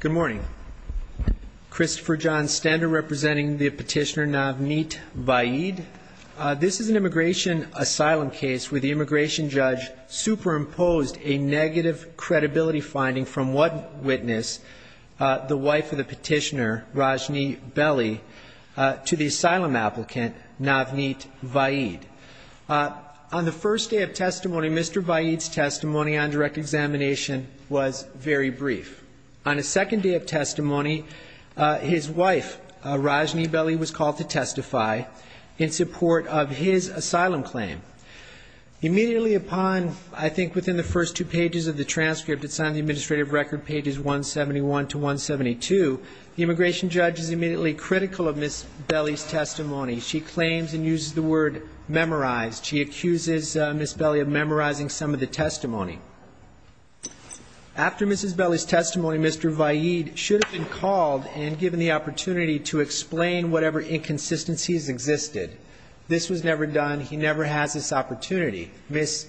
Good morning. Christopher John Stender representing the petitioner Navneet Vaid. This is an immigration asylum case where the immigration judge superimposed a negative credibility finding from one witness, the wife of the petitioner, Rajni Belli, to the asylum applicant Navneet Vaid. On the first day of testimony, Mr. Vaid's testimony on direct examination was very brief. On a second day of testimony, his wife, Rajni Belli, was called to testify in support of his asylum claim. Immediately upon, I think within the first two pages of the transcript, it's on the administrative record pages 171 to 172, the immigration judge is immediately critical of Ms. Belli's testimony. She claims and uses the word memorized. She accuses Ms. Belli of memorizing some of the testimony. After Ms. Belli's testimony, Mr. Vaid should have been called and given the opportunity to explain whatever inconsistencies existed. This was never done. He never has this opportunity. Ms.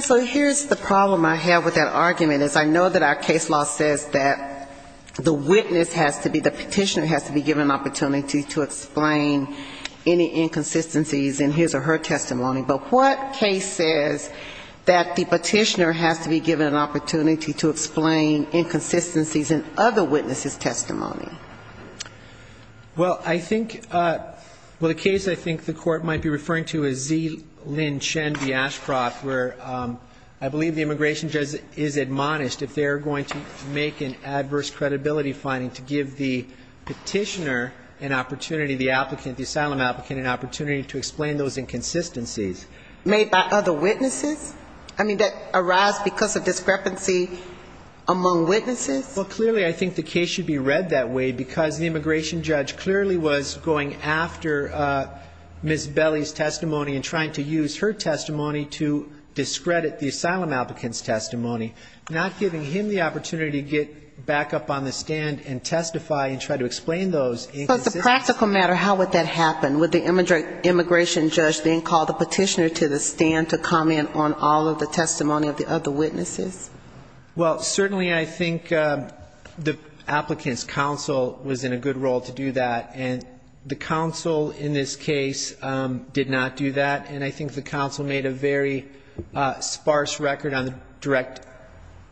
So here's the problem I have with that argument, is I know that our case law says that the witness has to be, the petitioner has to be given an opportunity to explain any inconsistencies in his or her testimony. But what case says that the petitioner has to be given an opportunity to explain inconsistencies in other witnesses' testimony? Well, I think the case I think the Court might be referring to is Z. Lynn Chen v. Ashcroft, where I believe the immigration judge is admonished if they're going to make an adverse credibility finding to give the petitioner an opportunity, the applicant, the asylum applicant, an opportunity to explain those inconsistencies. Made by other witnesses? I mean, that arise because of discrepancy among witnesses? Well, clearly I think the case should be read that way because the immigration judge clearly was going after Ms. Belley's testimony and trying to use her testimony to discredit the asylum applicant's testimony, not giving him the opportunity to get back up on the stand and testify and try to explain those inconsistencies. So as a practical matter, how would that happen? Would the immigration judge then call the petitioner to the stand to comment on all of the testimony of the other witnesses? Well, certainly I think the applicant's counsel was in a good role to do that, and the counsel in this case did not do that, and I think the counsel made a very sparse record on the direct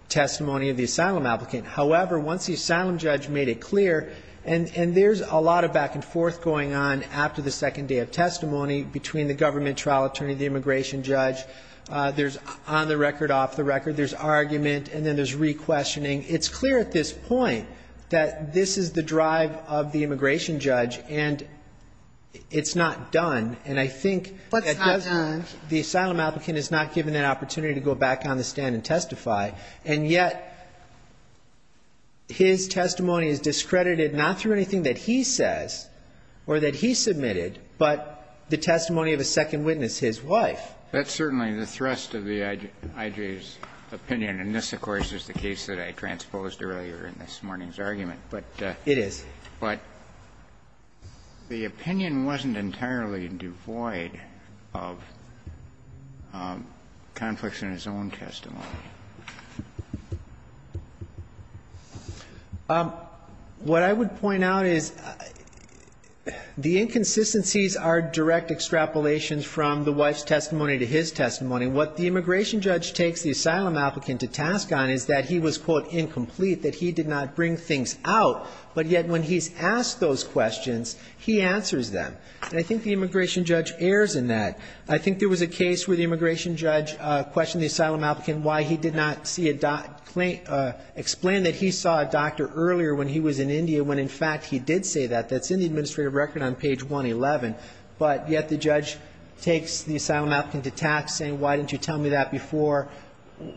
testimony of the asylum applicant. However, once the asylum judge made it clear, and there's a lot of back and forth going on after the second day of testimony between the government trial attorney, the immigration judge, there's on-the-record, off-the-record, there's argument, and then there's re-questioning. It's clear at this point that this is the drive of the immigration judge, and it's not done, and I think the asylum applicant is not given that opportunity to go back on the stand and testify, and yet his testimony is discredited not through anything that he says or that he submitted, but the testimony of a second witness, his wife. That's certainly the thrust of the I.J.'s opinion, and this, of course, is the case that I transposed earlier in this morning's argument. It is. But the opinion wasn't entirely devoid of conflicts in his own testimony. What I would point out is the inconsistencies are direct extrapolations from the wife's testimony to his testimony. What the immigration judge takes the asylum applicant to task on is that he was, quote, incomplete, that he did not bring things out, but yet when he's asked those questions, he answers them. And I think the immigration judge errs in that. I think there was a case where the immigration judge questioned the asylum applicant why he did not explain that he saw a doctor earlier when he was in India when, in fact, he did say that. That's in the administrative record on page 111, but yet the judge takes the asylum applicant to task saying, why didn't you tell me that before?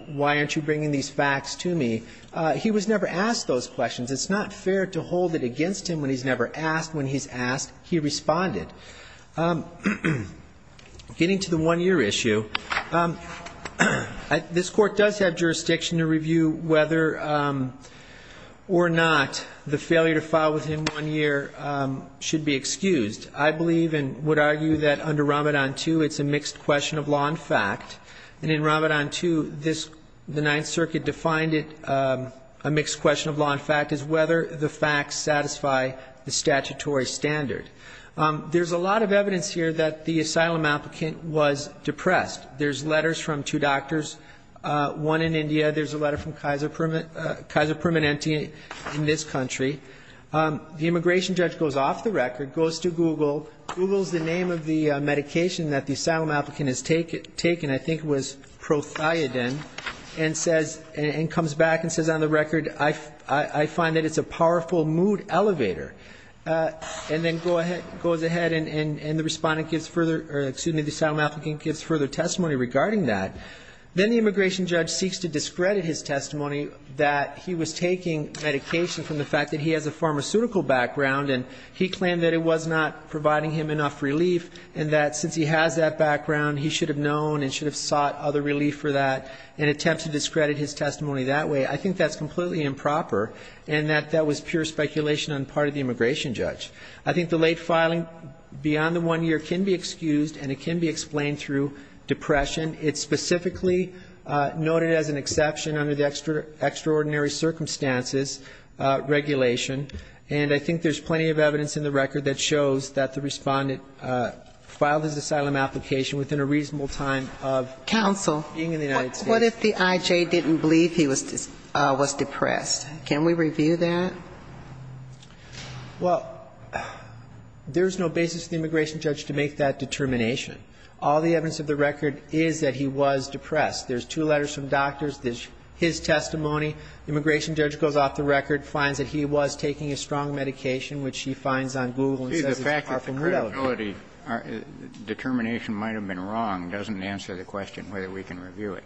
Why aren't you bringing these facts to me? He was never asked those questions. It's not fair to hold it against him when he's never asked when he's asked. He responded. Getting to the one-year issue, this Court does have jurisdiction to review whether or not the failure to file within one year should be excused. I believe and would argue that under Ramadan II, it's a mixed question of law and fact. And in Ramadan II, the Ninth Circuit defined it, a mixed question of law and fact, as whether the facts satisfy the statutory standard. There's a lot of evidence here that the asylum applicant was depressed. There's letters from two doctors, one in India. There's a letter from Kaiser Permanente in this country. The immigration judge goes off the record, goes to Google, Googles the name of the medication that the asylum applicant has taken, I think it was prothiadine, and comes back and says, on the record, I find that it's a powerful mood elevator. And then goes ahead and the respondent gives further, excuse me, the asylum applicant gives further testimony regarding that. Then the immigration judge seeks to discredit his testimony that he was taking medication from the fact that he has a pharmaceutical background, and he claimed that it was not providing him enough relief, and that since he has that background, he should have known and should have sought other relief for that, and attempted to discredit his testimony that way. I think that's completely improper, and that that was pure speculation on the part of the immigration judge. I think the late filing beyond the one year can be excused, and it can be explained through depression. It's specifically noted as an exception under the extraordinary circumstances regulation, and I think there's plenty of evidence in the record that shows that the respondent filed his asylum application within a reasonable time of being in the United States. Counsel, what if the I.J. didn't believe he was depressed? Can we review that? Well, there's no basis for the immigration judge to make that determination. All the evidence of the record is that he was depressed. There's two letters from doctors. There's his testimony. The immigration judge goes off the record, finds that he was taking a strong medication, which he finds on Google and says it's par for the course. The fact that the credibility determination might have been wrong doesn't answer the question whether we can review it.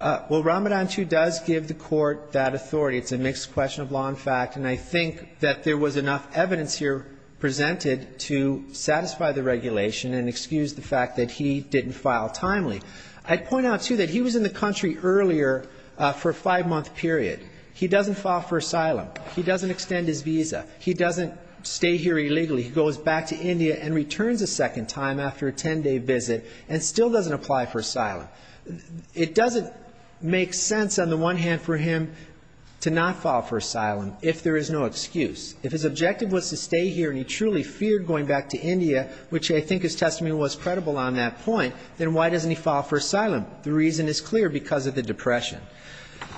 Well, Ramadan II does give the court that authority. It's a mixed question of law and fact, and I think that there was enough evidence here presented to satisfy the regulation and excuse the fact that he didn't file timely. I'd point out, too, that he was in the country earlier for a five-month period. He doesn't file for asylum. He doesn't extend his visa. He doesn't stay here illegally. He goes back to India and returns a second time after a 10-day visit and still doesn't apply for asylum. It doesn't make sense, on the one hand, for him to not file for asylum if there is no excuse. If his objective was to stay here and he truly feared going back to India, which I think his testimony was credible on that point, then why doesn't he file for asylum? The reason is clear, because of the depression.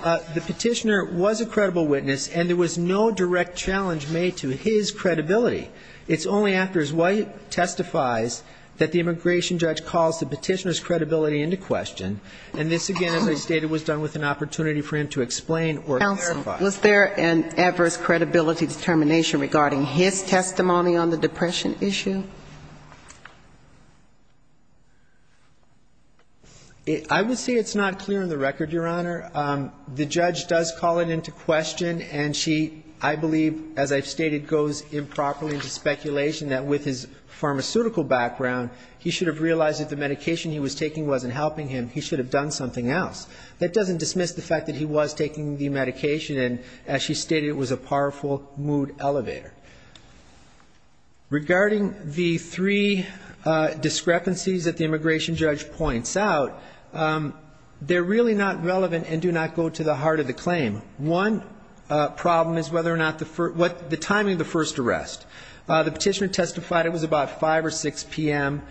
The petitioner was a credible witness, and there was no direct challenge made to his credibility. It's only after his wife testifies that the immigration judge calls the question. And this, again, as I stated, was done with an opportunity for him to explain or clarify. Counsel, was there an adverse credibility determination regarding his testimony on the depression issue? I would say it's not clear on the record, Your Honor. The judge does call it into question, and she, I believe, as I've stated, goes improperly into speculation that with his pharmaceutical background, he should have realized that the medication he was taking wasn't helping him. He should have done something else. That doesn't dismiss the fact that he was taking the medication, and as she stated, it was a powerful mood elevator. Regarding the three discrepancies that the immigration judge points out, they're really not relevant and do not go to the heart of the claim. One problem is whether or not the first – the timing of the first arrest. The petitioner testified it was about 5 or 6 p.m.,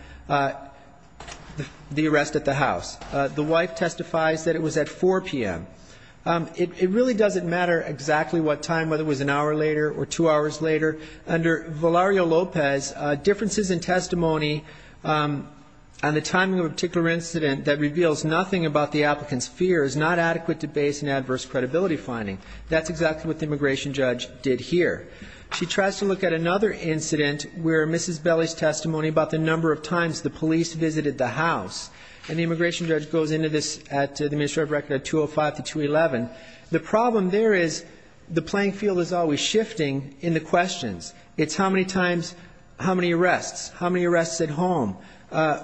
the arrest at the house. The wife testifies that it was at 4 p.m. It really doesn't matter exactly what time, whether it was an hour later or two hours later. Under Valerio Lopez, differences in testimony and the timing of a particular incident that reveals nothing about the applicant's fear is not adequate to base an adverse credibility finding. That's exactly what the immigration judge did here. She tries to look at another incident where Mrs. Belli's testimony about the number of times the police visited the house, and the immigration judge goes into this at the administrative record at 205 to 211. The problem there is the playing field is always shifting in the questions. It's how many times, how many arrests, how many arrests at home,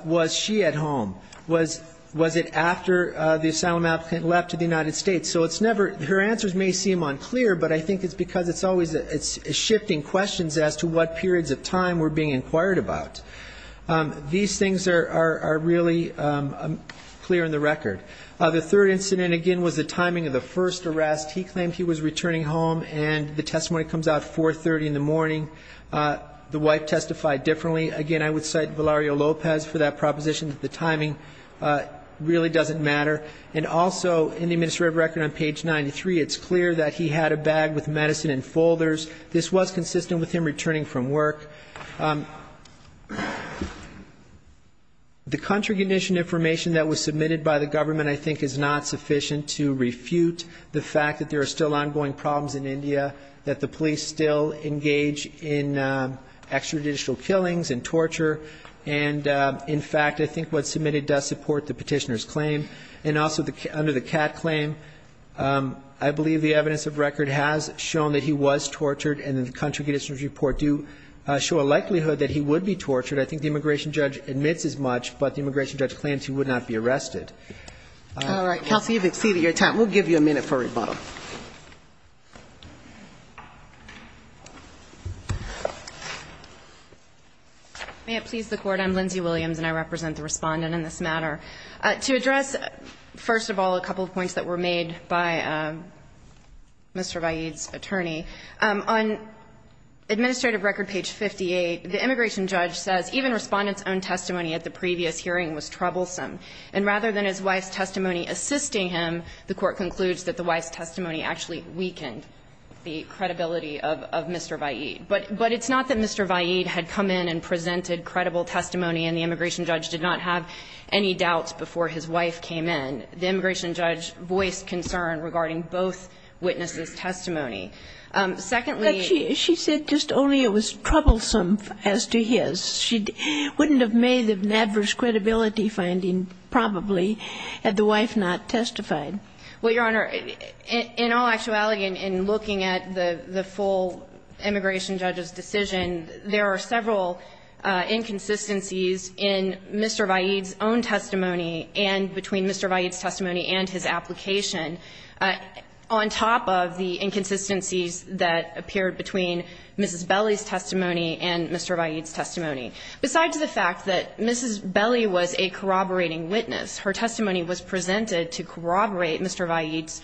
was she at home, was it after the asylum applicant left to the United States. So it's never – her answers may seem unclear, but I think it's because it's shifting questions as to what periods of time were being inquired about. These things are really clear in the record. The third incident, again, was the timing of the first arrest. He claimed he was returning home, and the testimony comes out at 4.30 in the morning. The wife testified differently. Again, I would cite Valerio Lopez for that proposition that the timing really doesn't matter. And also, in the administrative record on page 93, it's clear that he had a bag with medicine in folders. This was consistent with him returning from work. The contraindication information that was submitted by the government, I think, is not sufficient to refute the fact that there are still ongoing problems in India, that the police still engage in extrajudicial killings and torture. And, in fact, I think what's submitted does support the petitioner's claim. And also, under the Catt claim, I believe the evidence of record has shown that he was tortured, and the contraindications report do show a likelihood that he would be tortured. I think the immigration judge admits as much, but the immigration judge claims he would not be arrested. All right. Kelsey, you've exceeded your time. We'll give you a minute for rebuttal. May it please the Court. I'm Lindsay Williams, and I represent the respondent in this matter. To address, first of all, a couple of points that were made by Mr. Vahid's attorney, on administrative record page 58, the immigration judge says even respondent's own testimony at the previous hearing was troublesome. And rather than his wife's testimony assisting him, the Court concludes that the wife's testimony actually weakened the credibility of Mr. Vahid. But it's not that Mr. Vahid had come in and presented credible testimony, and the immigration judge did not have any doubts before his wife came in. The immigration judge voiced concern regarding both witnesses' testimony. Secondly ---- But she said just only it was troublesome as to his. She wouldn't have made an adverse credibility finding, probably, had the wife not testified. Well, Your Honor, in all actuality, in looking at the full immigration judge's decision, there are several inconsistencies in Mr. Vahid's own testimony and between Mr. Vahid's testimony and his application, on top of the inconsistencies that appeared between Mrs. Belli's testimony and Mr. Vahid's testimony. Besides the fact that Mrs. Belli was a corroborating witness, her testimony was presented to corroborate Mr. Vahid's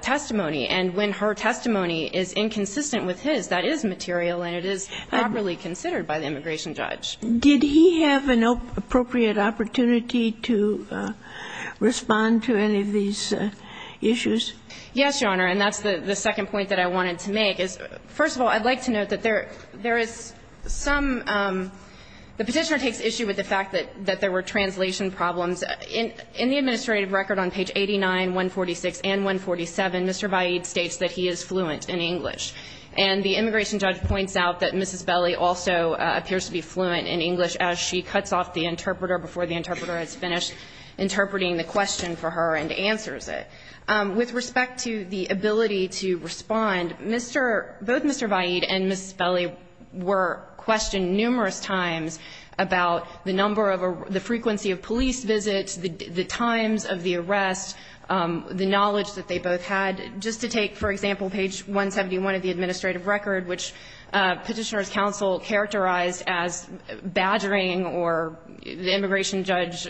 testimony. And when her testimony is inconsistent with his, that is material and it is properly considered by the immigration judge. Did he have an appropriate opportunity to respond to any of these issues? Yes, Your Honor. And that's the second point that I wanted to make is, first of all, I'd like to note that there is some ---- the Petitioner takes issue with the fact that there were translation problems. In the administrative record on page 89, 146 and 147, Mr. Vahid states that he is fluent in English. And the immigration judge points out that Mrs. Belli also appears to be fluent in English as she cuts off the interpreter before the interpreter has finished interpreting the question for her and answers it. With respect to the ability to respond, Mr. ---- both Mr. Vahid and Mrs. Belli were fluent in English. The frequency of police visits, the times of the arrest, the knowledge that they both had. Just to take, for example, page 171 of the administrative record, which Petitioner's counsel characterized as badgering or the immigration judge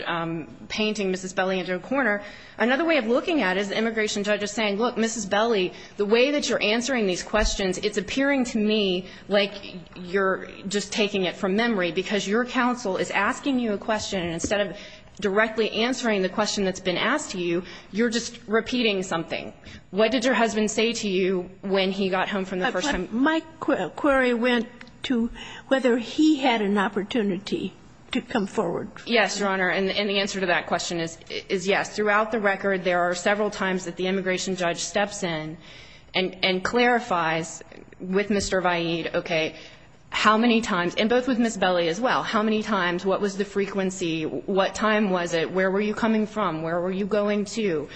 painting Mrs. Belli into a corner, another way of looking at it is the immigration judge is saying, look, Mrs. Belli, the way that you're answering these questions, it's appearing to me like you're just taking it from memory, because your counsel is asking you a question, and instead of directly answering the question that's been asked to you, you're just repeating something. What did your husband say to you when he got home from the first time? My query went to whether he had an opportunity to come forward. Yes, Your Honor. And the answer to that question is yes. Throughout the record, there are several times that the immigration judge steps in and clarifies with Mr. Vaid, okay, how many times, and both with Mrs. Belli as well, how many times, what was the frequency, what time was it, where were you coming from, where were you going to.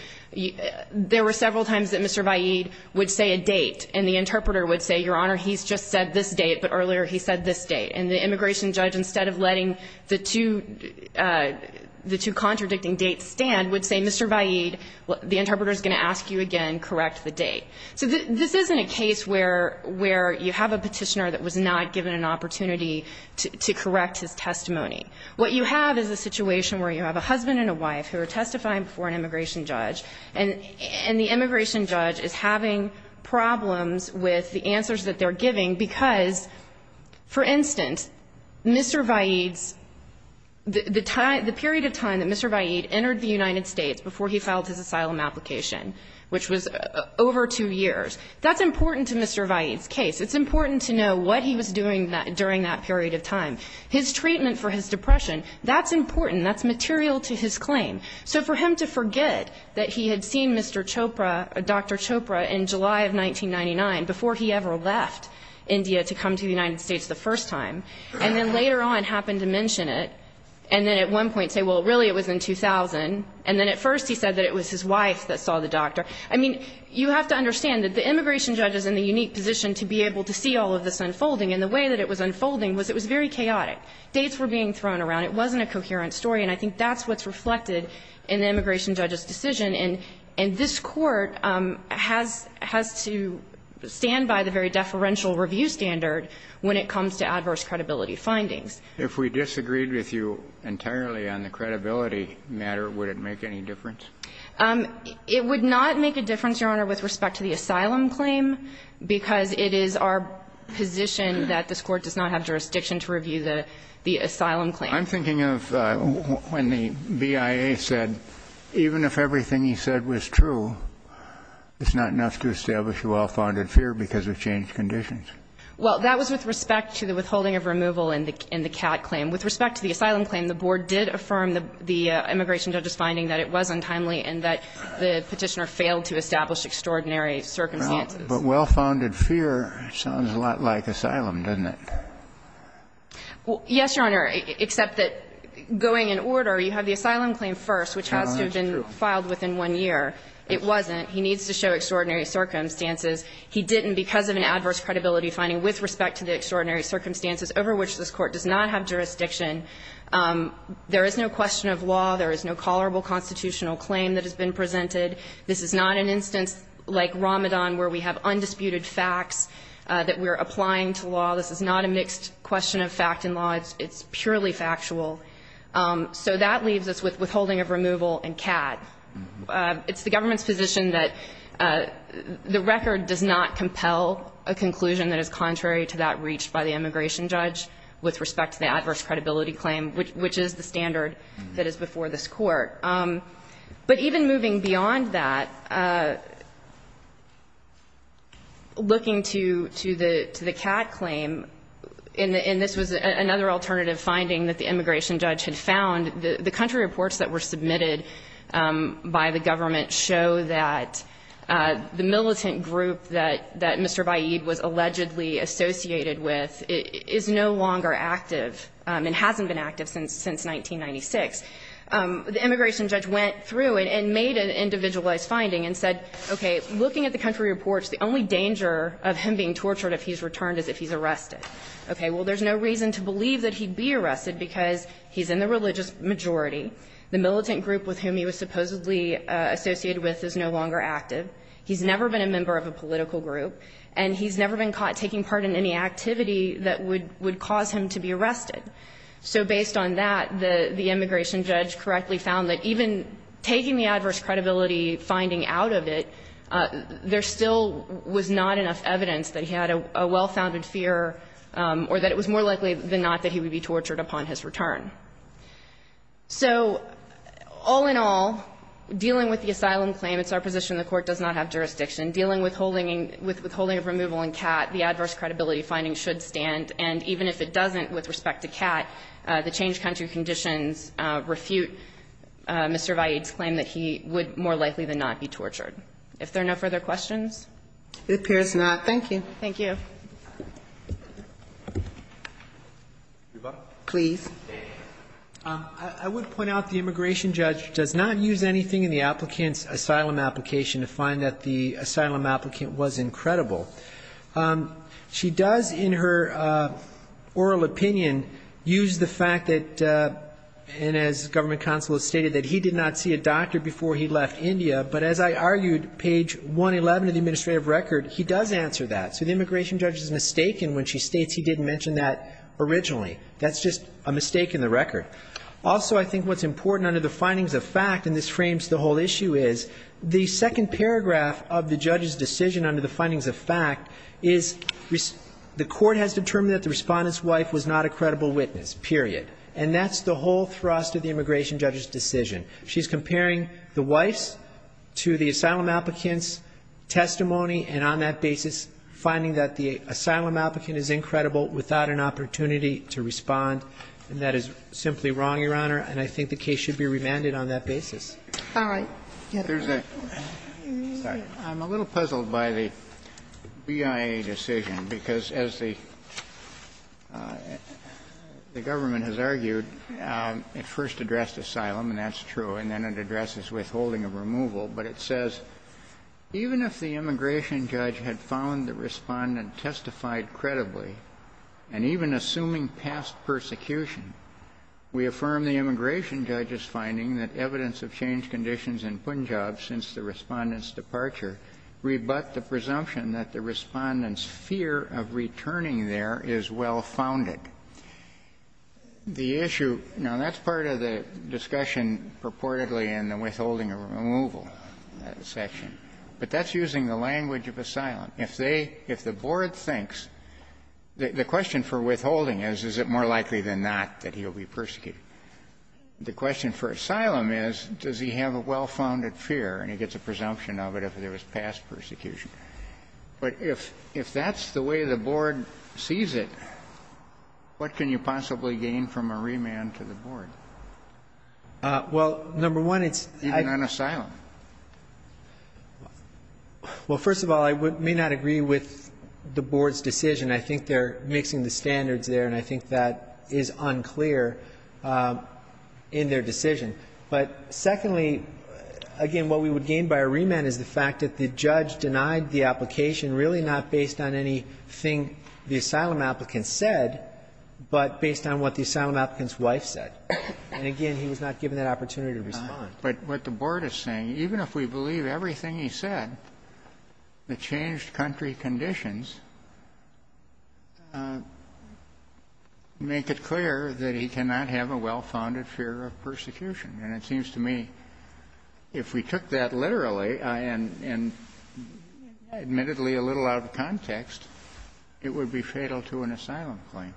There were several times that Mr. Vaid would say a date, and the interpreter would say, Your Honor, he's just said this date, but earlier he said this date. And the immigration judge, instead of letting the two contradicting dates stand, would say, Mr. Vaid, the interpreter's going to ask you again, correct the date. So this isn't a case where you have a petitioner that was not given an opportunity to correct his testimony. What you have is a situation where you have a husband and a wife who are testifying before an immigration judge, and the immigration judge is having problems with the answers that they're giving because, for instance, Mr. Vaid's, the period of time that Mr. Vaid entered the United States before he filed his asylum application, which was over two years, that's important to Mr. Vaid's case. It's important to know what he was doing during that period of time. His treatment for his depression, that's important. That's material to his claim. So for him to forget that he had seen Mr. Chopra, Dr. Chopra, in July of 1999, before he ever left India to come to the United States the first time, and then later on happened to mention it, and then at one point say, Well, really it was in 2000, and then at first he said that it was his wife that saw the doctor. I mean, you have to understand that the immigration judge is in the unique position to be able to see all of this unfolding, and the way that it was unfolding was it was very chaotic. Dates were being thrown around. It wasn't a coherent story. And I think that's what's reflected in the immigration judge's decision. And this Court has to stand by the very deferential review standard when it comes to adverse credibility findings. If we disagreed with you entirely on the credibility matter, would it make any difference? It would not make a difference, Your Honor, with respect to the asylum claim, because it is our position that this Court does not have jurisdiction to review the asylum claim. I'm thinking of when the BIA said, Even if everything he said was true, it's not enough to establish a well-founded fear because of changed conditions. Well, that was with respect to the withholding of removal in the CAT claim. With respect to the asylum claim, the Board did affirm the immigration judge's finding that it was untimely and that the Petitioner failed to establish extraordinary circumstances. But well-founded fear sounds a lot like asylum, doesn't it? Yes, Your Honor, except that going in order, you have the asylum claim first, which has to have been filed within one year. It wasn't. He needs to show extraordinary circumstances. He didn't because of an adverse credibility finding with respect to the extraordinary circumstances over which this Court does not have jurisdiction. There is no question of law. There is no tolerable constitutional claim that has been presented. This is not an instance like Ramadan where we have undisputed facts that we're applying to law. This is not a mixed question of fact and law. It's purely factual. So that leaves us with withholding of removal in CAT. It's the government's position that the record does not compel a conclusion that is contrary to that reached by the immigration judge with respect to the adverse credibility claim, which is the standard that is before this Court. But even moving beyond that, looking to the CAT claim, and this was another alternative finding that the immigration judge had found, the country reports that were submitted by the government show that the militant group that Mr. Baid was allegedly associated with is no longer active and hasn't been active since 1996. The immigration judge went through and made an individualized finding and said, okay, looking at the country reports, the only danger of him being tortured if he's returned is if he's arrested. Okay, well, there's no reason to believe that he'd be arrested because he's in the religious majority. The militant group with whom he was supposedly associated with is no longer active. He's never been a member of a political group and he's never been caught taking part in any activity that would cause him to be arrested. So based on that, the immigration judge correctly found that even taking the adverse credibility finding out of it, there still was not enough evidence that he had a well-founded fear or that it was more likely than not that he would be tortured upon his return. So all in all, dealing with the asylum claim, it's our position the court does not have jurisdiction, dealing with withholding of removal in CAT, the adverse credibility finding should stand and even if it doesn't with respect to CAT, the changed country conditions refute Mr. Baid's claim that he would more likely than not be tortured. If there are no further questions? It appears not. Thank you. Thank you. Please. I would point out the immigration judge does not use anything in the applicant's asylum application to find that the asylum applicant was incredible. She does in her oral opinion use the fact that and as Government Counsel has stated that he did not see a doctor before he left India but as I argued, page 111 of the administrative record, he does answer that. So the immigration judge is mistaken when she states he didn't mention that originally. That's just a mistake in the record. Also, I think what's important under the findings of fact and this frames the whole issue is the second paragraph of the judge's decision under the findings of fact is the court has determined that the respondent's wife was not a credible witness, period. And that's the whole thrust of the immigration judge's decision. She's comparing the wife's to the asylum applicant's testimony and on that basis, finding that the asylum applicant is incredible without an opportunity to respond. And that is simply wrong, Your Honor. And I think the case should be remanded on that basis. All right. I'm a little puzzled by the BIA decision because as the government has argued, it first addressed asylum and that's true and then it addresses withholding of removal but it says even if the immigration judge had found the respondent testified credibly and even assuming past persecution, we affirm the immigration judge's finding that evidence of change conditions in Punjab since the respondent's departure rebut the presumption that the respondent's fear of returning there is well founded. The issue, now that's part of the discussion purportedly in the withholding of removal section but that's using the language of asylum. If they, if the board thinks, the question for withholding is is it more likely than not that he'll be persecuted? The question for asylum is does he have a well-founded fear and he gets a presumption of it if there was past persecution. But if that's the way the board sees it, what can you possibly gain from a remand to the board? Well, number one, it's... Even on asylum? Well, first of all, I may not agree with the board's decision. I think they're mixing the standards there and I think that is unclear in their decision. But secondly, again, what we would gain by a remand is the fact that the judge denied the application really not based on anything the asylum applicant said but based on what the asylum applicant's wife said. And again, he was not given that opportunity to respond. But what the board is saying, even if we believe everything he said, the changed country conditions make it clear that he cannot have a well-founded fear of persecution. And it seems to me if we took that literally and admittedly a little out of context, it would be fatal to an asylum claim.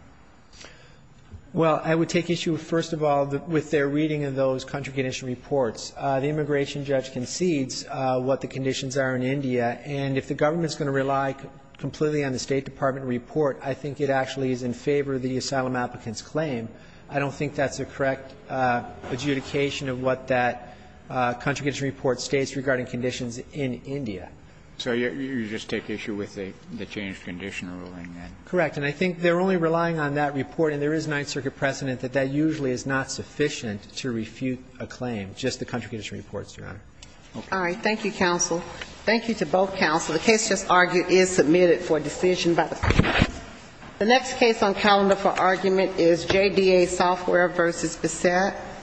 Well, I would take issue, first of all, with their reading of those country condition reports. The immigration judge concedes what the conditions are in India and if the government's going to rely completely on the State Department report, I think it actually is in favour of the asylum applicant's claim. I don't think that's the correct adjudication of what that country condition report states regarding conditions in India. So you just take issue with the changed condition ruling? Correct. And I think they're only relying on that report and there is Ninth Circuit precedent that that usually is not sufficient to refute a claim, just the country condition reports, Your Honor. All right. Thank you, counsel. Thank you to both counsel. The case just argued is submitted for decision by the court. The next case on calendar for argument is JDA Software v. Bissett.